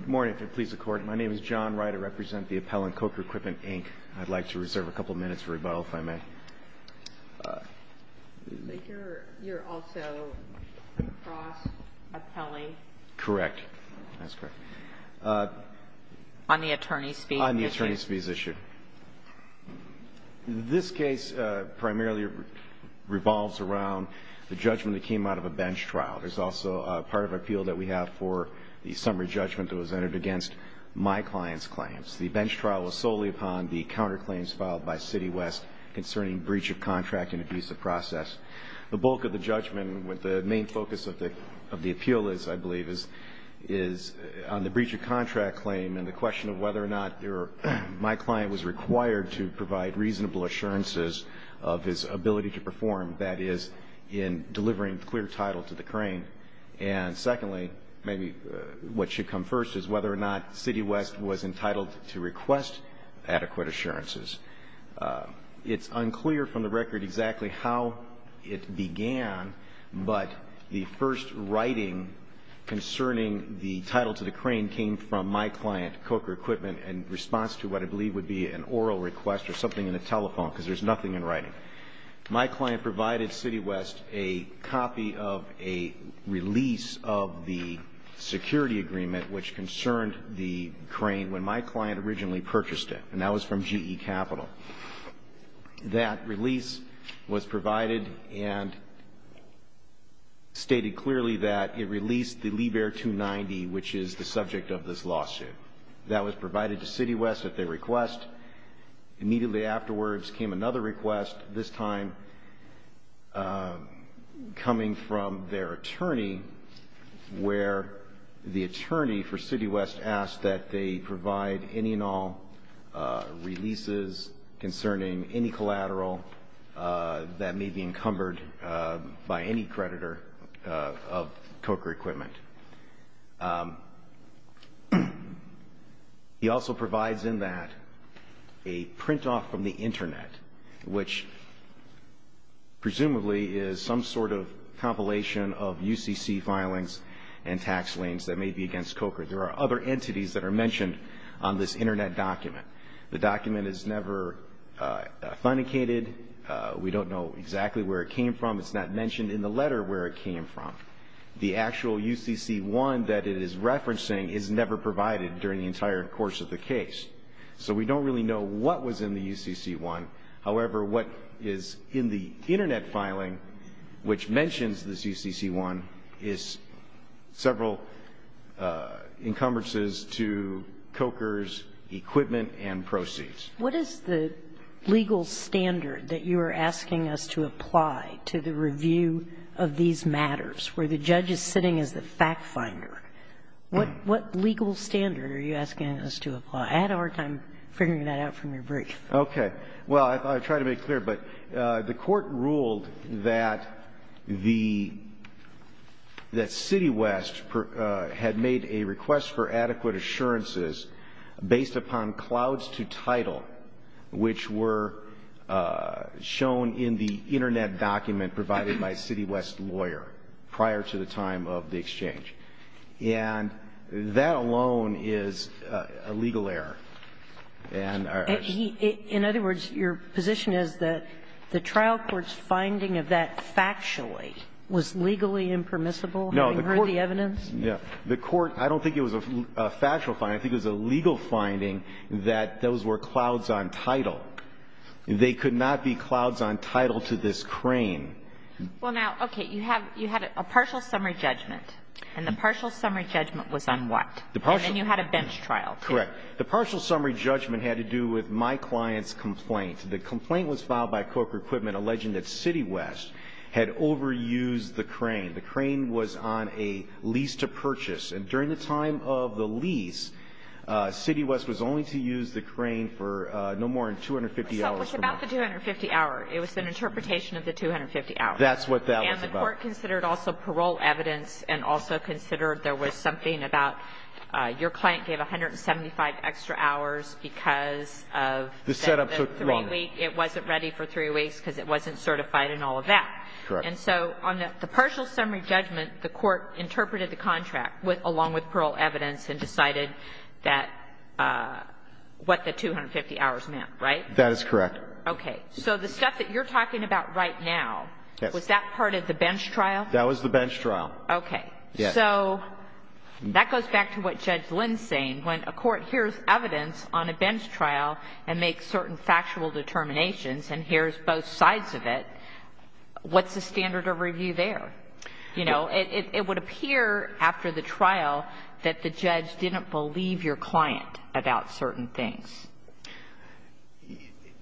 Good morning. If it pleases the Court, my name is John Wright. I represent the appellant, Coker Equipment, Inc. I'd like to reserve a couple minutes for rebuttal, if I may. You're also a cross appellee? Correct. That's correct. On the attorney's fees issue? On the attorney's fees issue. This case primarily revolves around the judgment that came out of a bench trial. There's also a part of appeal that we have for the summary judgment that was entered against my client's claims. The bench trial was solely upon the counterclaims filed by Citiwest concerning breach of contract and abuse of process. The bulk of the judgment, what the main focus of the appeal is, I believe, is on the breach of contract claim and the question of whether or not my client was required to provide reasonable assurances of his ability to perform. That is, in delivering clear title to the crane. And secondly, maybe what should come first is whether or not Citiwest was entitled to request adequate assurances. It's unclear from the record exactly how it began, but the first writing concerning the title to the crane came from my client, Coker Equipment, in response to what I believe would be an oral request or something in a telephone, because there's nothing in writing. But my client provided Citiwest a copy of a release of the security agreement, which concerned the crane when my client originally purchased it, and that was from GE Capital. That release was provided and stated clearly that it released the Liebherr 290, which is the subject of this lawsuit. That was provided to Citiwest at their request. Immediately afterwards came another request, this time coming from their attorney, where the attorney for Citiwest asked that they provide any and all releases concerning any collateral that may be encumbered by any creditor of Coker Equipment. He also provides in that a print-off from the Internet, which presumably is some sort of compilation of UCC filings and tax liens that may be against Coker. There are other entities that are mentioned on this Internet document. The document is never authenticated. We don't know exactly where it came from. It's not mentioned in the letter where it came from. The actual UCC-1 that it is referencing is never provided during the entire course of the case. So we don't really know what was in the UCC-1. However, what is in the Internet filing, which mentions this UCC-1, is several encumbrances to Coker's equipment and proceeds. What is the legal standard that you are asking us to apply to the review of these matters, where the judge is sitting as the fact-finder? What legal standard are you asking us to apply? I had a hard time figuring that out from your brief. Okay. Well, I'll try to make it clear. But the Court ruled that the City West had made a request for adequate assurances based upon clouds to title, which were shown in the Internet document provided by City West's lawyer prior to the time of the exchange. And that alone is a legal error. In other words, your position is that the trial court's finding of that factually was legally impermissible, having heard the evidence? No. The Court – I don't think it was a factual finding. I think it was a legal finding that those were clouds on title. They could not be clouds on title to this crane. Well, now, okay. You had a partial summary judgment. And the partial summary judgment was on what? And then you had a bench trial. Correct. The partial summary judgment had to do with my client's complaint. The complaint was filed by Coker Equipment alleging that City West had overused the crane. The crane was on a lease to purchase. And during the time of the lease, City West was only to use the crane for no more than 250 hours. So it was about the 250 hour. It was an interpretation of the 250 hours. That's what that was about. And the Court considered also parole evidence and also considered there was something about your client gave 175 extra hours because of the three-week. The setup took longer. It wasn't ready for three weeks because it wasn't certified and all of that. Correct. And so on the partial summary judgment, the Court interpreted the contract along with parole evidence and decided that – what the 250 hours meant, right? That is correct. Okay. So the stuff that you're talking about right now, was that part of the bench trial? That was the bench trial. Okay. Yes. So that goes back to what Judge Lynn's saying. When a court hears evidence on a bench trial and makes certain factual determinations and hears both sides of it, what's the standard of review there? You know, it would appear after the trial that the judge didn't believe your client about certain things.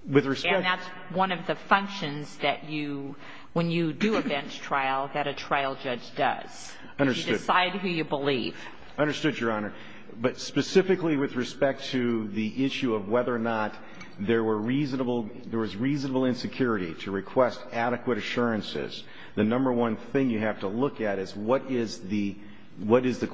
With respect – And that's one of the functions that you – when you do a bench trial, that a trial judge does. Understood. You decide who you believe. Understood, Your Honor. But specifically with respect to the issue of whether or not there was reasonable insecurity to request adequate assurances, the number one thing you have to look at is what is the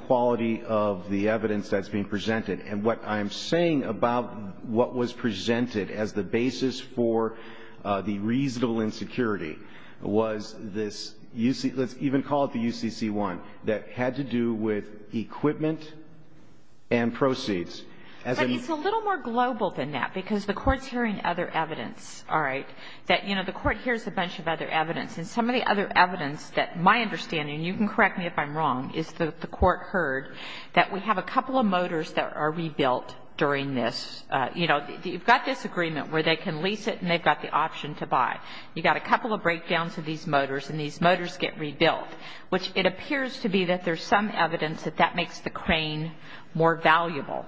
quality of the evidence that's being presented. And what I'm saying about what was presented as the basis for the reasonable insecurity was this – let's even call it the UCC-1 – that had to do with equipment and proceeds. But it's a little more global than that because the court's hearing other evidence, all right, that, you know, the court hears a bunch of other evidence. And some of the other evidence that my understanding – you can correct me if I'm wrong – is that the court heard that we have a couple of motors that are rebuilt during this. You know, you've got this agreement where they can lease it and they've got the option to buy. You've got a couple of breakdowns of these motors and these motors get rebuilt, which it appears to be that there's some evidence that that makes the crane more valuable.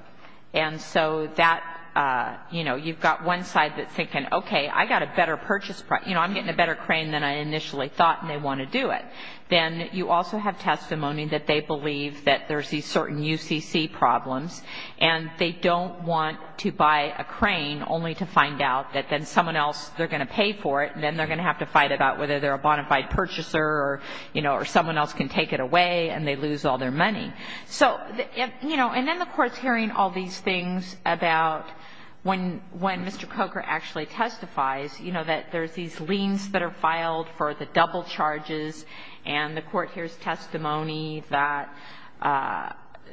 And so that, you know, you've got one side that's thinking, okay, I've got a better purchase – you know, I'm getting a better crane than I initially thought and they want to do it. Then you also have testimony that they believe that there's these certain UCC problems and they don't want to buy a crane only to find out that then someone else, they're going to pay for it and then they're going to have to fight about whether they're a bonafide purchaser or, you know, or someone else can take it away and they lose all their money. So, you know, and then the court's hearing all these things about when Mr. Coker actually testifies, you know, that there's these liens that are filed for the double charges and the court hears testimony that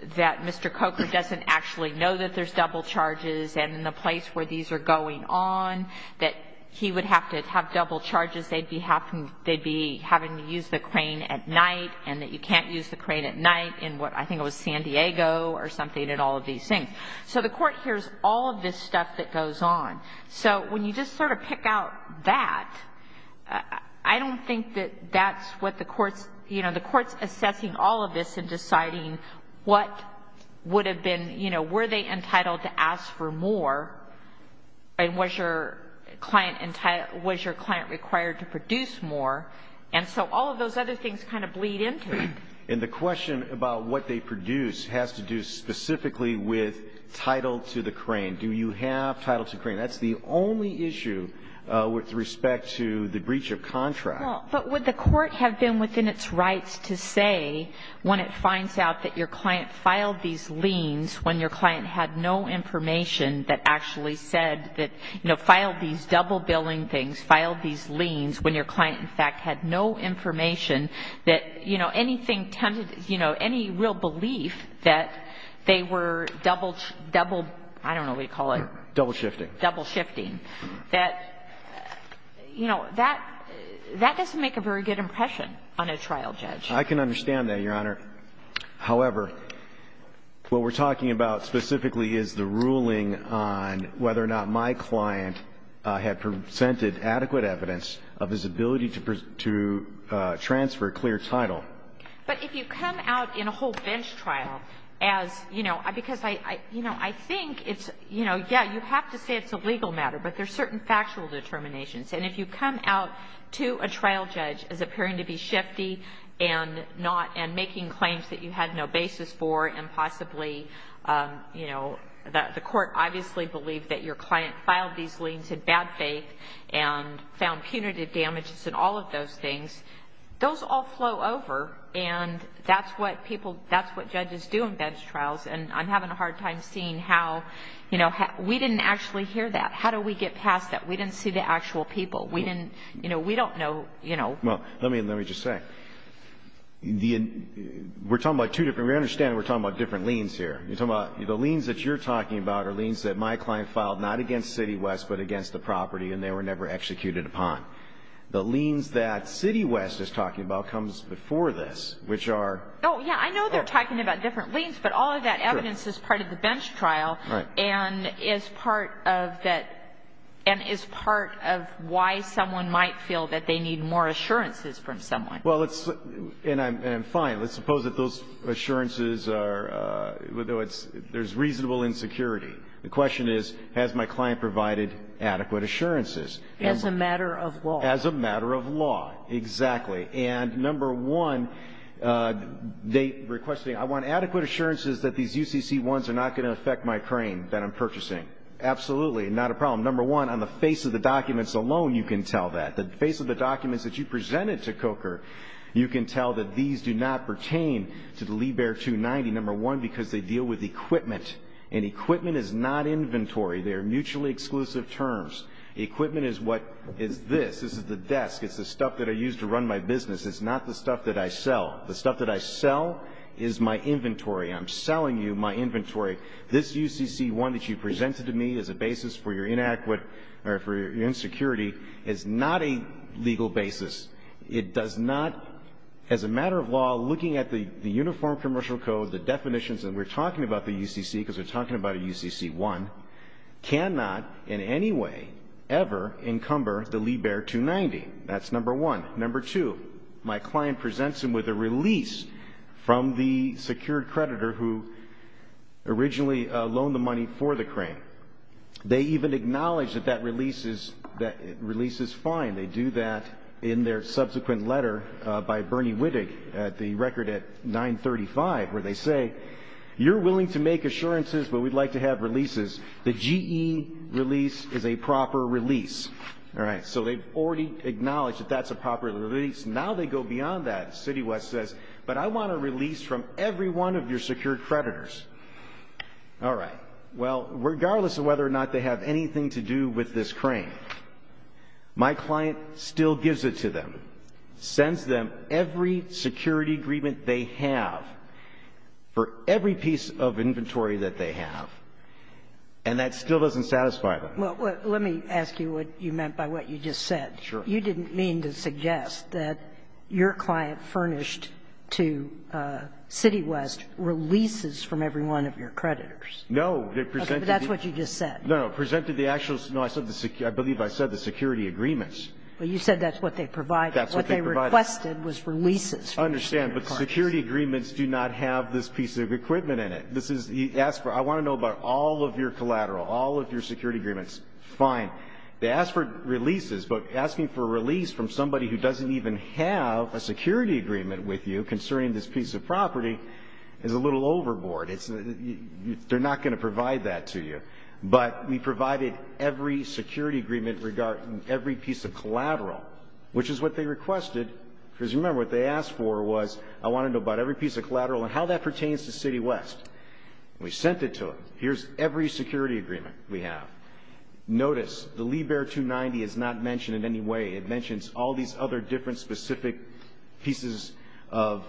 Mr. Coker doesn't actually know that there's double charges and in the place where these are going on that he would have to have double charges. They'd be having to use the crane at night and that you can't use the crane at night in what, I think it was San Diego or something and all of these things. So the court hears all of this stuff that goes on. So when you just sort of pick out that, I don't think that that's what the court's, you know, the court's assessing all of this and deciding what would have been, you know, were they entitled to ask for more and was your client required to produce more and so all of those other things kind of bleed into it. And the question about what they produce has to do specifically with title to the crane. Do you have title to crane? That's the only issue with respect to the breach of contract. Well, but would the court have been within its rights to say when it finds out that your client filed these liens when your client had no information that actually said that, you know, filed these double billing things, filed these liens when your client, in fact, had no information that, you know, anything tended, you know, any real belief that they were double, I don't know what you call it. Double shifting. Double shifting. That, you know, that doesn't make a very good impression on a trial judge. I can understand that, Your Honor. However, what we're talking about specifically is the ruling on whether or not my client had presented adequate evidence of his ability to transfer a clear title. But if you come out in a whole bench trial as, you know, because I think it's, you know, yeah, you have to say it's a legal matter, but there's certain factual determinations. And if you come out to a trial judge as appearing to be shifty and not and making claims that you had no basis for and possibly, you know, the court obviously believed that your client filed these liens in bad faith and found punitive damages and all of those things, those all flow over. And that's what people, that's what judges do in bench trials. And I'm having a hard time seeing how, you know, we didn't actually hear that. How do we get past that? We didn't see the actual people. We didn't, you know, we don't know, you know. Well, let me just say, we're talking about two different, we understand we're talking about different liens here. You're talking about the liens that you're talking about are liens that my client filed, not against City West, but against the property, and they were never executed upon. The liens that City West is talking about comes before this, which are... Oh, yeah, I know they're talking about different liens, but all of that evidence is part of the bench trial. Right. And is part of that, and is part of why someone might feel that they need more assurances from someone. Well, let's, and I'm fine. Let's suppose that those assurances are, there's reasonable insecurity. The question is, has my client provided adequate assurances? As a matter of law. As a matter of law, exactly. And number one, they requested, I want adequate assurances that these UCC1s are not going to affect my crane that I'm purchasing. Absolutely, not a problem. Number one, on the face of the documents alone, you can tell that. The face of the documents that you presented to COCR, you can tell that these do not pertain to the Lee Bear 290, number one, because they deal with equipment, and equipment is not inventory. They are mutually exclusive terms. Equipment is what, is this. This is the desk. It's the stuff that I use to run my business. It's not the stuff that I sell. The stuff that I sell is my inventory. I'm selling you my inventory. This UCC1 that you presented to me as a basis for your inadequate, or for your insecurity, is not a legal basis. It does not, as a matter of law, looking at the Uniform Commercial Code, the definitions, and we're talking about the UCC because we're talking about a UCC1, cannot in any way ever encumber the Lee Bear 290. That's number one. Number two, my client presents him with a release from the secured creditor who originally loaned the money for the crane. They even acknowledge that that release is fine. They do that in their subsequent letter by Bernie Wittig, the record at 935, where they say, you're willing to make assurances, but we'd like to have releases. The GE release is a proper release. All right, so they've already acknowledged that that's a proper release. Now they go beyond that. City West says, but I want a release from every one of your secured creditors. All right, well, regardless of whether or not they have anything to do with this crane, my client still gives it to them, sends them every security agreement they have for every piece of inventory that they have, and that still doesn't satisfy them. Well, let me ask you what you meant by what you just said. Sure. You didn't mean to suggest that your client furnished to City West releases from every one of your creditors. No. But that's what you just said. No, no. Presented the actuals. No, I believe I said the security agreements. Well, you said that's what they provided. That's what they provided. What they requested was releases. I understand. But security agreements do not have this piece of equipment in it. This is the ask for. I want to know about all of your collateral, all of your security agreements. Fine. They ask for releases, but asking for a release from somebody who doesn't even have a security agreement with you concerning this piece of property is a little overboard. They're not going to provide that to you. But we provided every security agreement regarding every piece of collateral, which is what they requested. Because, remember, what they asked for was I want to know about every piece of collateral and how that pertains to City West. We sent it to them. Here's every security agreement we have. Notice the Lee Bear 290 is not mentioned in any way. It mentions all these other different specific pieces of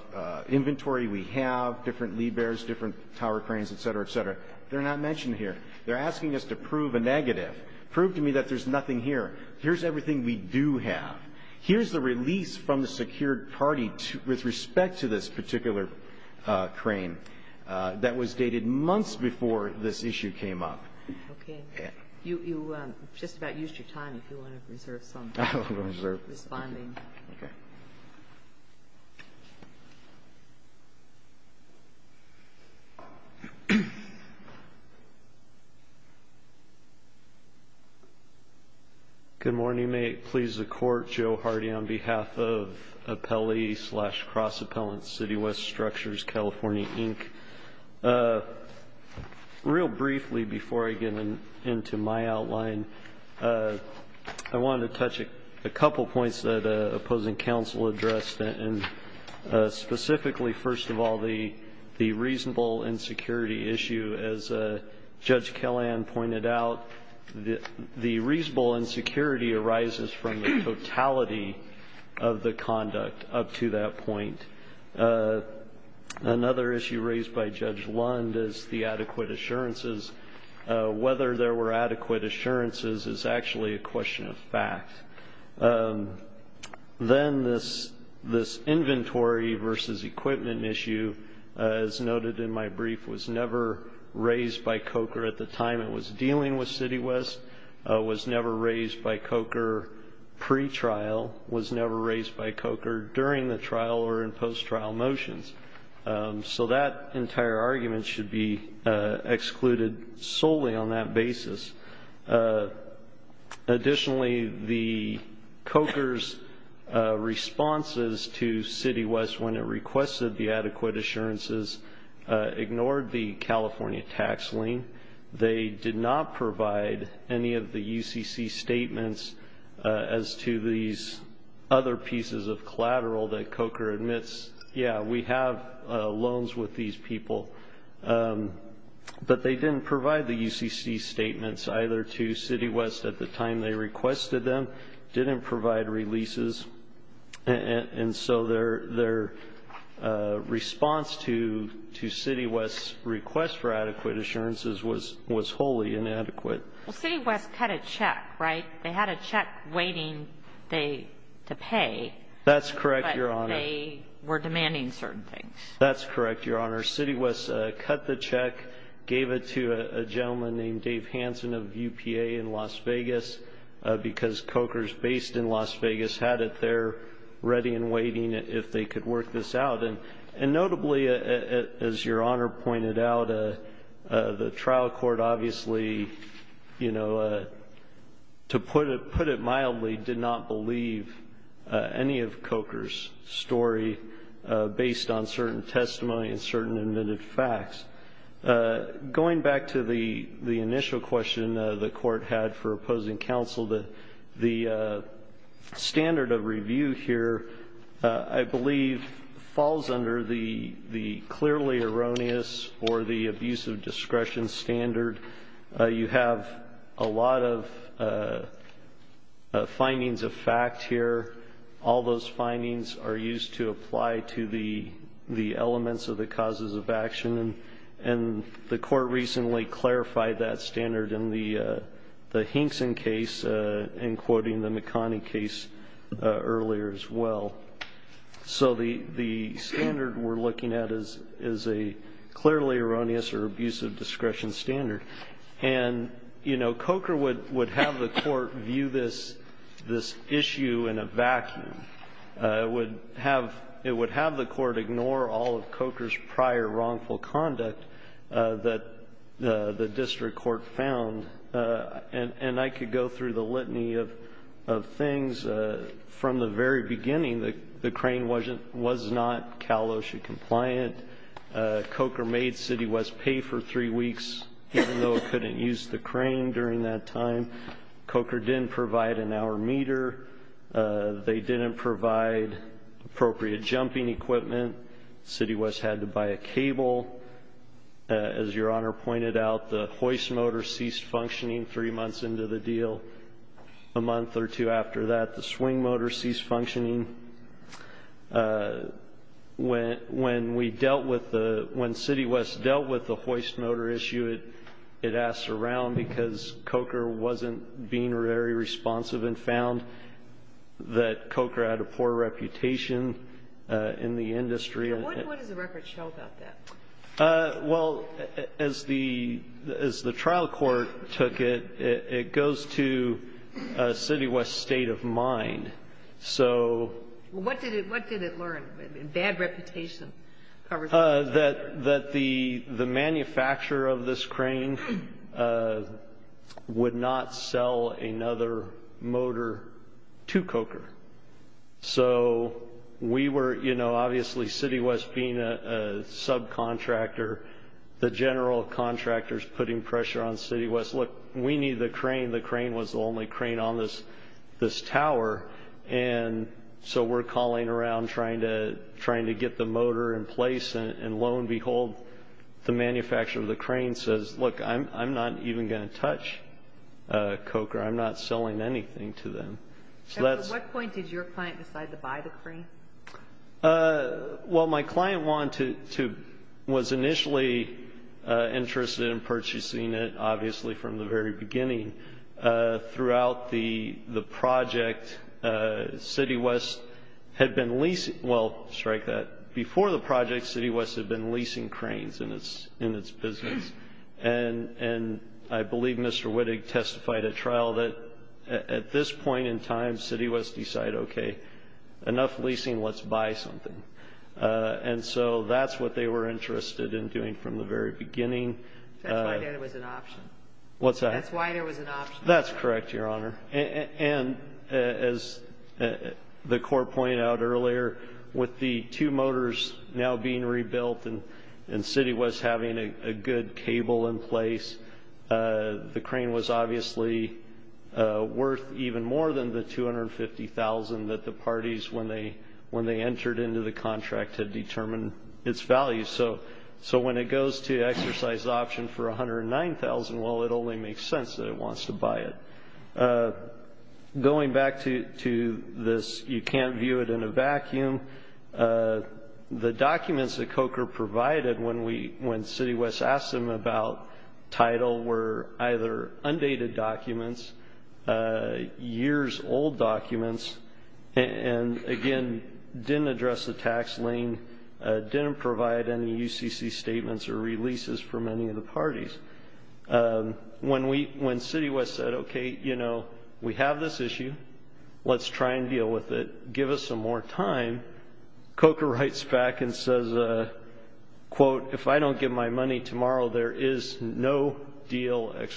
inventory we have, different Lee Bears, different tower cranes, et cetera, et cetera. They're not mentioned here. They're asking us to prove a negative, prove to me that there's nothing here. Here's everything we do have. Here's the release from the secured party with respect to this particular crane that was dated months before this issue came up. Okay. You just about used your time if you want to reserve some. I will reserve. Responding. Okay. Thank you. Good morning. May it please the Court. Joe Hardy on behalf of Appellee slash Cross Appellant City West Structures, California, Inc. Real briefly before I get into my outline, I wanted to touch a couple points that opposing counsel addressed, and specifically, first of all, the reasonable insecurity issue. As Judge Kelland pointed out, the reasonable insecurity arises from the totality of the conduct up to that point. Another issue raised by Judge Lund is the adequate assurances. Whether there were adequate assurances is actually a question of fact. Then this inventory versus equipment issue, as noted in my brief, was never raised by COCR at the time it was dealing with City West, was never raised by COCR pretrial, was never raised by COCR during the trial or in post-trial motions. So that entire argument should be excluded solely on that basis. Additionally, the COCR's responses to City West when it requested the adequate assurances ignored the California tax lien. They did not provide any of the UCC statements as to these other pieces of collateral that COCR admits. Yeah, we have loans with these people, but they didn't provide the UCC statements either to City West at the time they requested them, didn't provide releases. And so their response to City West's request for adequate assurances was wholly inadequate. Well, City West cut a check, right? They had a check waiting to pay. That's correct, Your Honor. They were demanding certain things. That's correct, Your Honor. City West cut the check, gave it to a gentleman named Dave Hanson of UPA in Las Vegas, because COCRs based in Las Vegas had it there ready and waiting if they could work this out. And notably, as Your Honor pointed out, the trial court obviously, you know, to put it mildly, did not believe any of COCR's story based on certain testimony and certain admitted facts. Going back to the initial question the court had for opposing counsel, the standard of review here, I believe, falls under the clearly erroneous or the abusive discretion standard. You have a lot of findings of fact here. All those findings are used to apply to the elements of the causes of action. And the court recently clarified that standard in the Hinkson case, in quoting the McConney case earlier as well. So the standard we're looking at is a clearly erroneous or abusive discretion standard. And, you know, COCR would have the court view this issue in a vacuum. It would have the court ignore all of COCR's prior wrongful conduct that the district court found. And I could go through the litany of things. From the very beginning, the crane was not Cal OSHA compliant. COCR made City West pay for three weeks, even though it couldn't use the crane during that time. COCR didn't provide an hour meter. They didn't provide appropriate jumping equipment. City West had to buy a cable. As Your Honor pointed out, the hoist motor ceased functioning three months into the deal. A month or two after that, the swing motor ceased functioning. When City West dealt with the hoist motor issue, it asked around because COCR wasn't being very responsive and found that COCR had a poor reputation in the industry. What does the record show about that? Well, as the trial court took it, it goes to City West's state of mind. What did it learn? Bad reputation. That the manufacturer of this crane would not sell another motor to COCR. So we were, you know, obviously City West being a subcontractor, the general contractors putting pressure on City West. Look, we need the crane. The crane was the only crane on this tower, and so we're calling around trying to get the motor in place, and lo and behold, the manufacturer of the crane says, Look, I'm not even going to touch COCR. I'm not selling anything to them. At what point did your client decide to buy the crane? Well, my client was initially interested in purchasing it, obviously from the very beginning. Throughout the project, City West had been leasing – well, strike that. Before the project, City West had been leasing cranes in its business, and I believe Mr. Wittig testified at trial that at this point in time, City West decided, Okay, enough leasing, let's buy something. And so that's what they were interested in doing from the very beginning. That's why there was an option. What's that? That's why there was an option. That's correct, Your Honor. And as the court pointed out earlier, with the two motors now being rebuilt and City West having a good cable in place, the crane was obviously worth even more than the $250,000 that the parties, when they entered into the contract, had determined its value. So when it goes to exercise the option for $109,000, well, it only makes sense that it wants to buy it. Going back to this, you can't view it in a vacuum, the documents that COCR provided when City West asked them about title were either undated documents, years-old documents, and, again, didn't address the tax lien, didn't provide any UCC statements or releases from any of the parties. When City West said, Okay, you know, we have this issue. Let's try and deal with it. Give us some more time. COCR writes back and says, quote, If I don't get my money tomorrow, there is no deal! It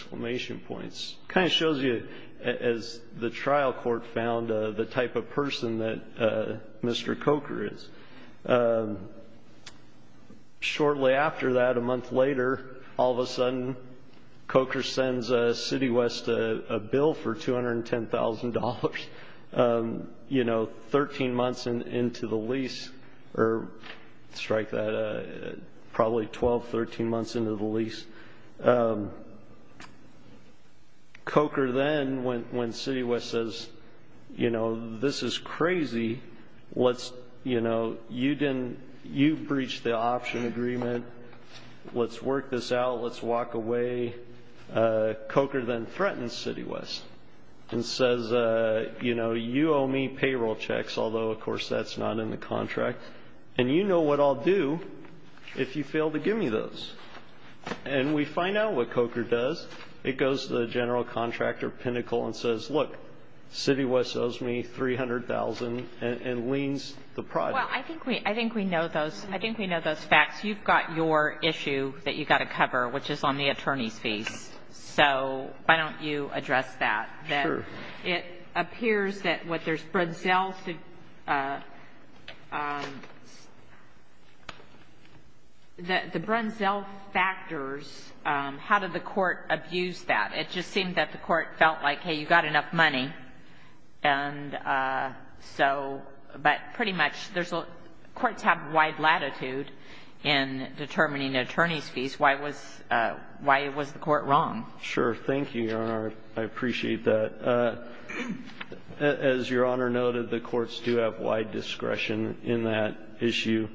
kind of shows you, as the trial court found, the type of person that Mr. COCR is. Shortly after that, a month later, all of a sudden COCR sends City West a bill for $210,000, you know, 13 months into the lease, or strike that, probably 12, 13 months into the lease. COCR then, when City West says, you know, this is crazy, let's, you know, you breached the option agreement. Let's work this out. Let's walk away. COCR then threatens City West and says, you know, of course that's not in the contract, and you know what I'll do if you fail to give me those. And we find out what COCR does. It goes to the general contractor, Pinnacle, and says, look, City West owes me $300,000 and liens the product. Well, I think we know those facts. You've got your issue that you've got to cover, which is on the attorney's fees. So why don't you address that? It appears that what there's Brunzel to the Brunzel factors, how did the court abuse that? It just seemed that the court felt like, hey, you've got enough money. And so, but pretty much courts have wide latitude in determining attorney's fees. Why was the court wrong? Sure. Thank you. Thank you, Your Honor. I appreciate that. As Your Honor noted, the courts do have wide discretion in that issue.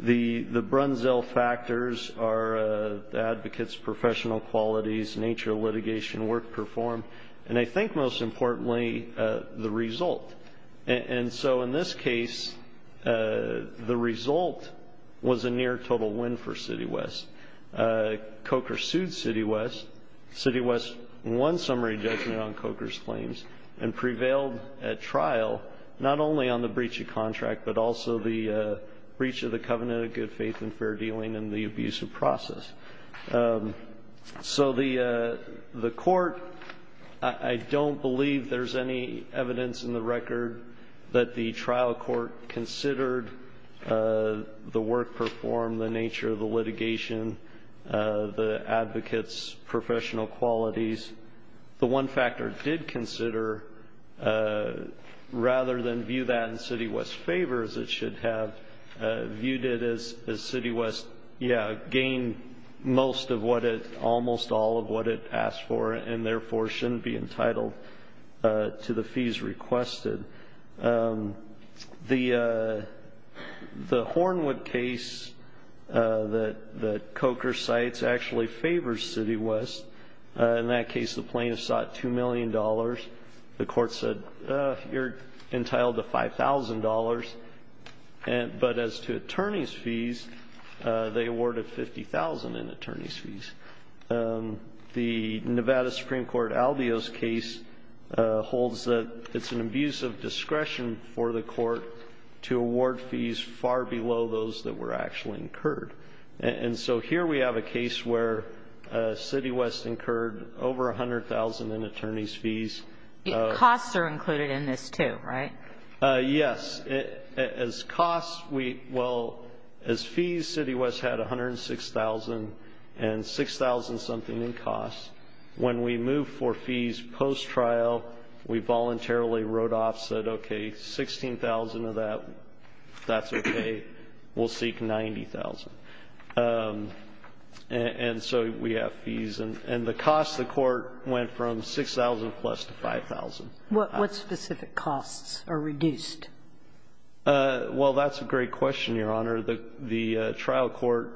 The Brunzel factors are advocates' professional qualities, nature of litigation, work performed, and I think most importantly, the result. And so in this case, the result was a near total win for City West. COCR sued City West. City West won summary judgment on COCR's claims and prevailed at trial, not only on the breach of contract, but also the breach of the covenant of good faith and fair dealing and the abusive process. So the court, I don't believe there's any evidence in the record that the trial court considered the work performed, the nature of the litigation, the advocates' professional qualities. The one factor it did consider, rather than view that in City West's favor, it should have viewed it as City West, yeah, gained most of what it, almost all of what it asked for and therefore shouldn't be entitled to the fees requested. The Hornwood case that COCR cites actually favors City West. In that case, the plaintiff sought $2 million. The court said, you're entitled to $5,000. But as to attorney's fees, they awarded $50,000 in attorney's fees. The Nevada Supreme Court Albio's case holds that it's an abuse of discretion for the court to award fees far below those that were actually incurred. And so here we have a case where City West incurred over $100,000 in attorney's fees. Costs are included in this too, right? Yes. As costs, we, well, as fees, City West had $106,000 and $6,000-something in costs. When we moved for fees post-trial, we voluntarily wrote off, said, okay, $16,000 of that, that's okay, we'll seek $90,000. And so we have fees. And the costs, the court went from $6,000 plus to $5,000. What specific costs are reduced? Well, that's a great question, Your Honor. The trial court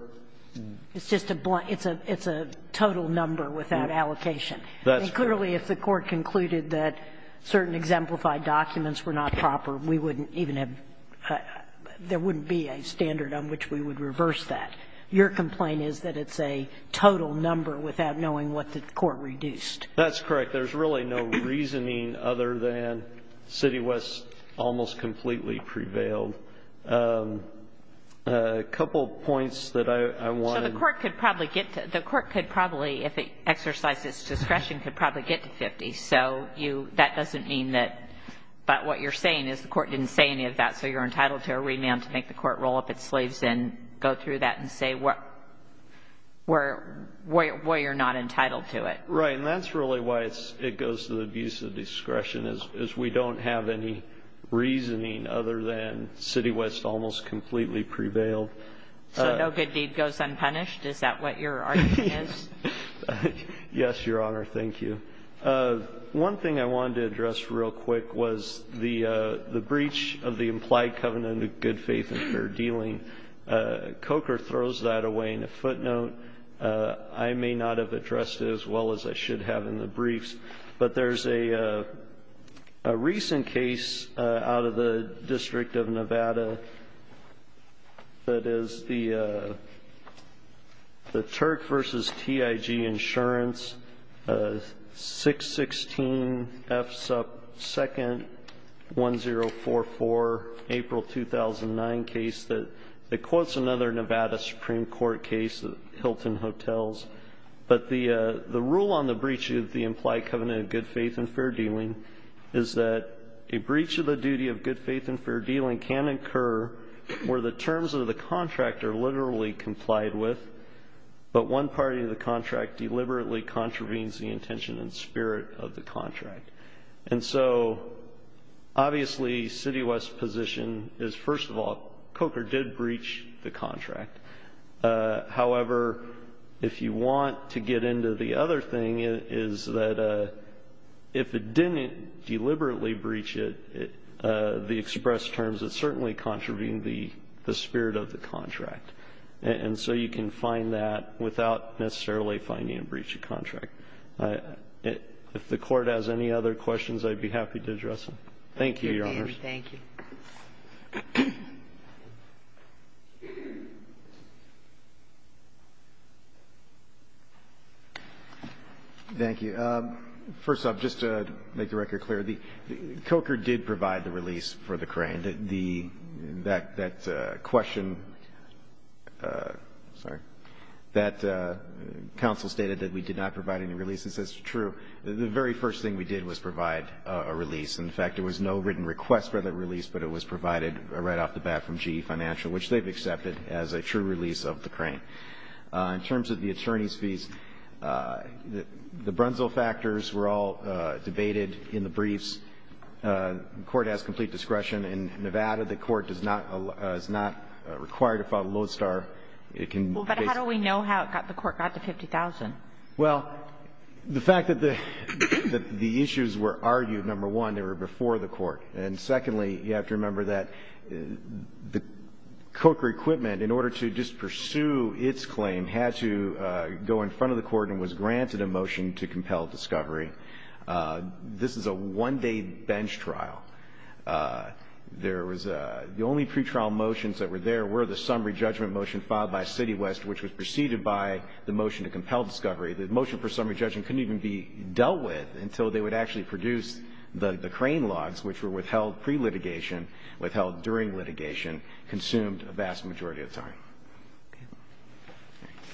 ---- It's just a total number without allocation. That's correct. And clearly, if the court concluded that certain exemplified documents were not proper, we wouldn't even have ---- there wouldn't be a standard on which we would reverse that. Your complaint is that it's a total number without knowing what the court reduced. That's correct. There's really no reasoning other than City West almost completely prevailed. A couple points that I want to ---- So the court could probably get to, the court could probably, if it exercised its discretion, could probably get to $50,000. So that doesn't mean that, but what you're saying is the court didn't say any of that, so you're entitled to a remand to make the court roll up its sleeves and go through that and say why you're not entitled to it. Right, and that's really why it goes to the abuse of discretion, is we don't have any reasoning other than City West almost completely prevailed. So no good deed goes unpunished? Is that what your argument is? Yes, Your Honor. Thank you. One thing I wanted to address real quick was the breach of the implied covenant of good faith and fair dealing. Coker throws that away in a footnote. I may not have addressed it as well as I should have in the briefs, but there's a recent case out of the District of Nevada that is the Turk v. TIG Insurance, 616 F. Supp. 2nd, 1044, April 2009 case that quotes another Nevada Supreme Court case at Hilton Hotels. But the rule on the breach of the implied covenant of good faith and fair dealing is that a breach of the duty of good faith and fair dealing can occur where the terms of the contract are literally complied with, but one party of the contract deliberately contravenes the intention and spirit of the contract. And so obviously City West's position is, first of all, Coker did breach the contract. However, if you want to get into the other thing, is that if it didn't deliberately breach it, the express terms, it certainly contravened the spirit of the contract. And so you can find that without necessarily finding a breach of contract. If the Court has any other questions, I'd be happy to address them. Thank you, Your Honors. Thank you. Thank you. Thank you. First off, just to make the record clear, Coker did provide the release for the crane. The question that counsel stated, that we did not provide any release, is true. The very first thing we did was provide a release. In fact, there was no written request for the release, but it was provided right off the bat from GE Financial, which they've accepted as a true release of the crane. In terms of the attorney's fees, the Brunzel factors were all debated in the briefs. The Court has complete discretion. In Nevada, the Court does not allow or is not required to file the Lodestar. It can basically be used to file the Lodestar. Well, but how do we know how the Court got to 50,000? Well, the fact that the issues were argued, number one, they were before the Court. And secondly, you have to remember that the Coker equipment, in order to just pursue its claim, had to go in front of the Court and was granted a motion to compel discovery. This is a one-day bench trial. The only pretrial motions that were there were the summary judgment motion filed by CityWest, which was preceded by the motion to compel discovery. The motion for summary judgment couldn't even be dealt with until they would actually produce the crane logs, which were withheld pre-litigation, withheld during litigation, consumed a vast majority of time.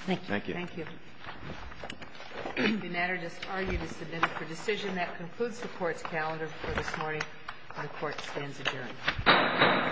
Thank you. Thank you. The matter just argued is submitted for decision. That concludes the Court's calendar for this morning. Our Court stands adjourned.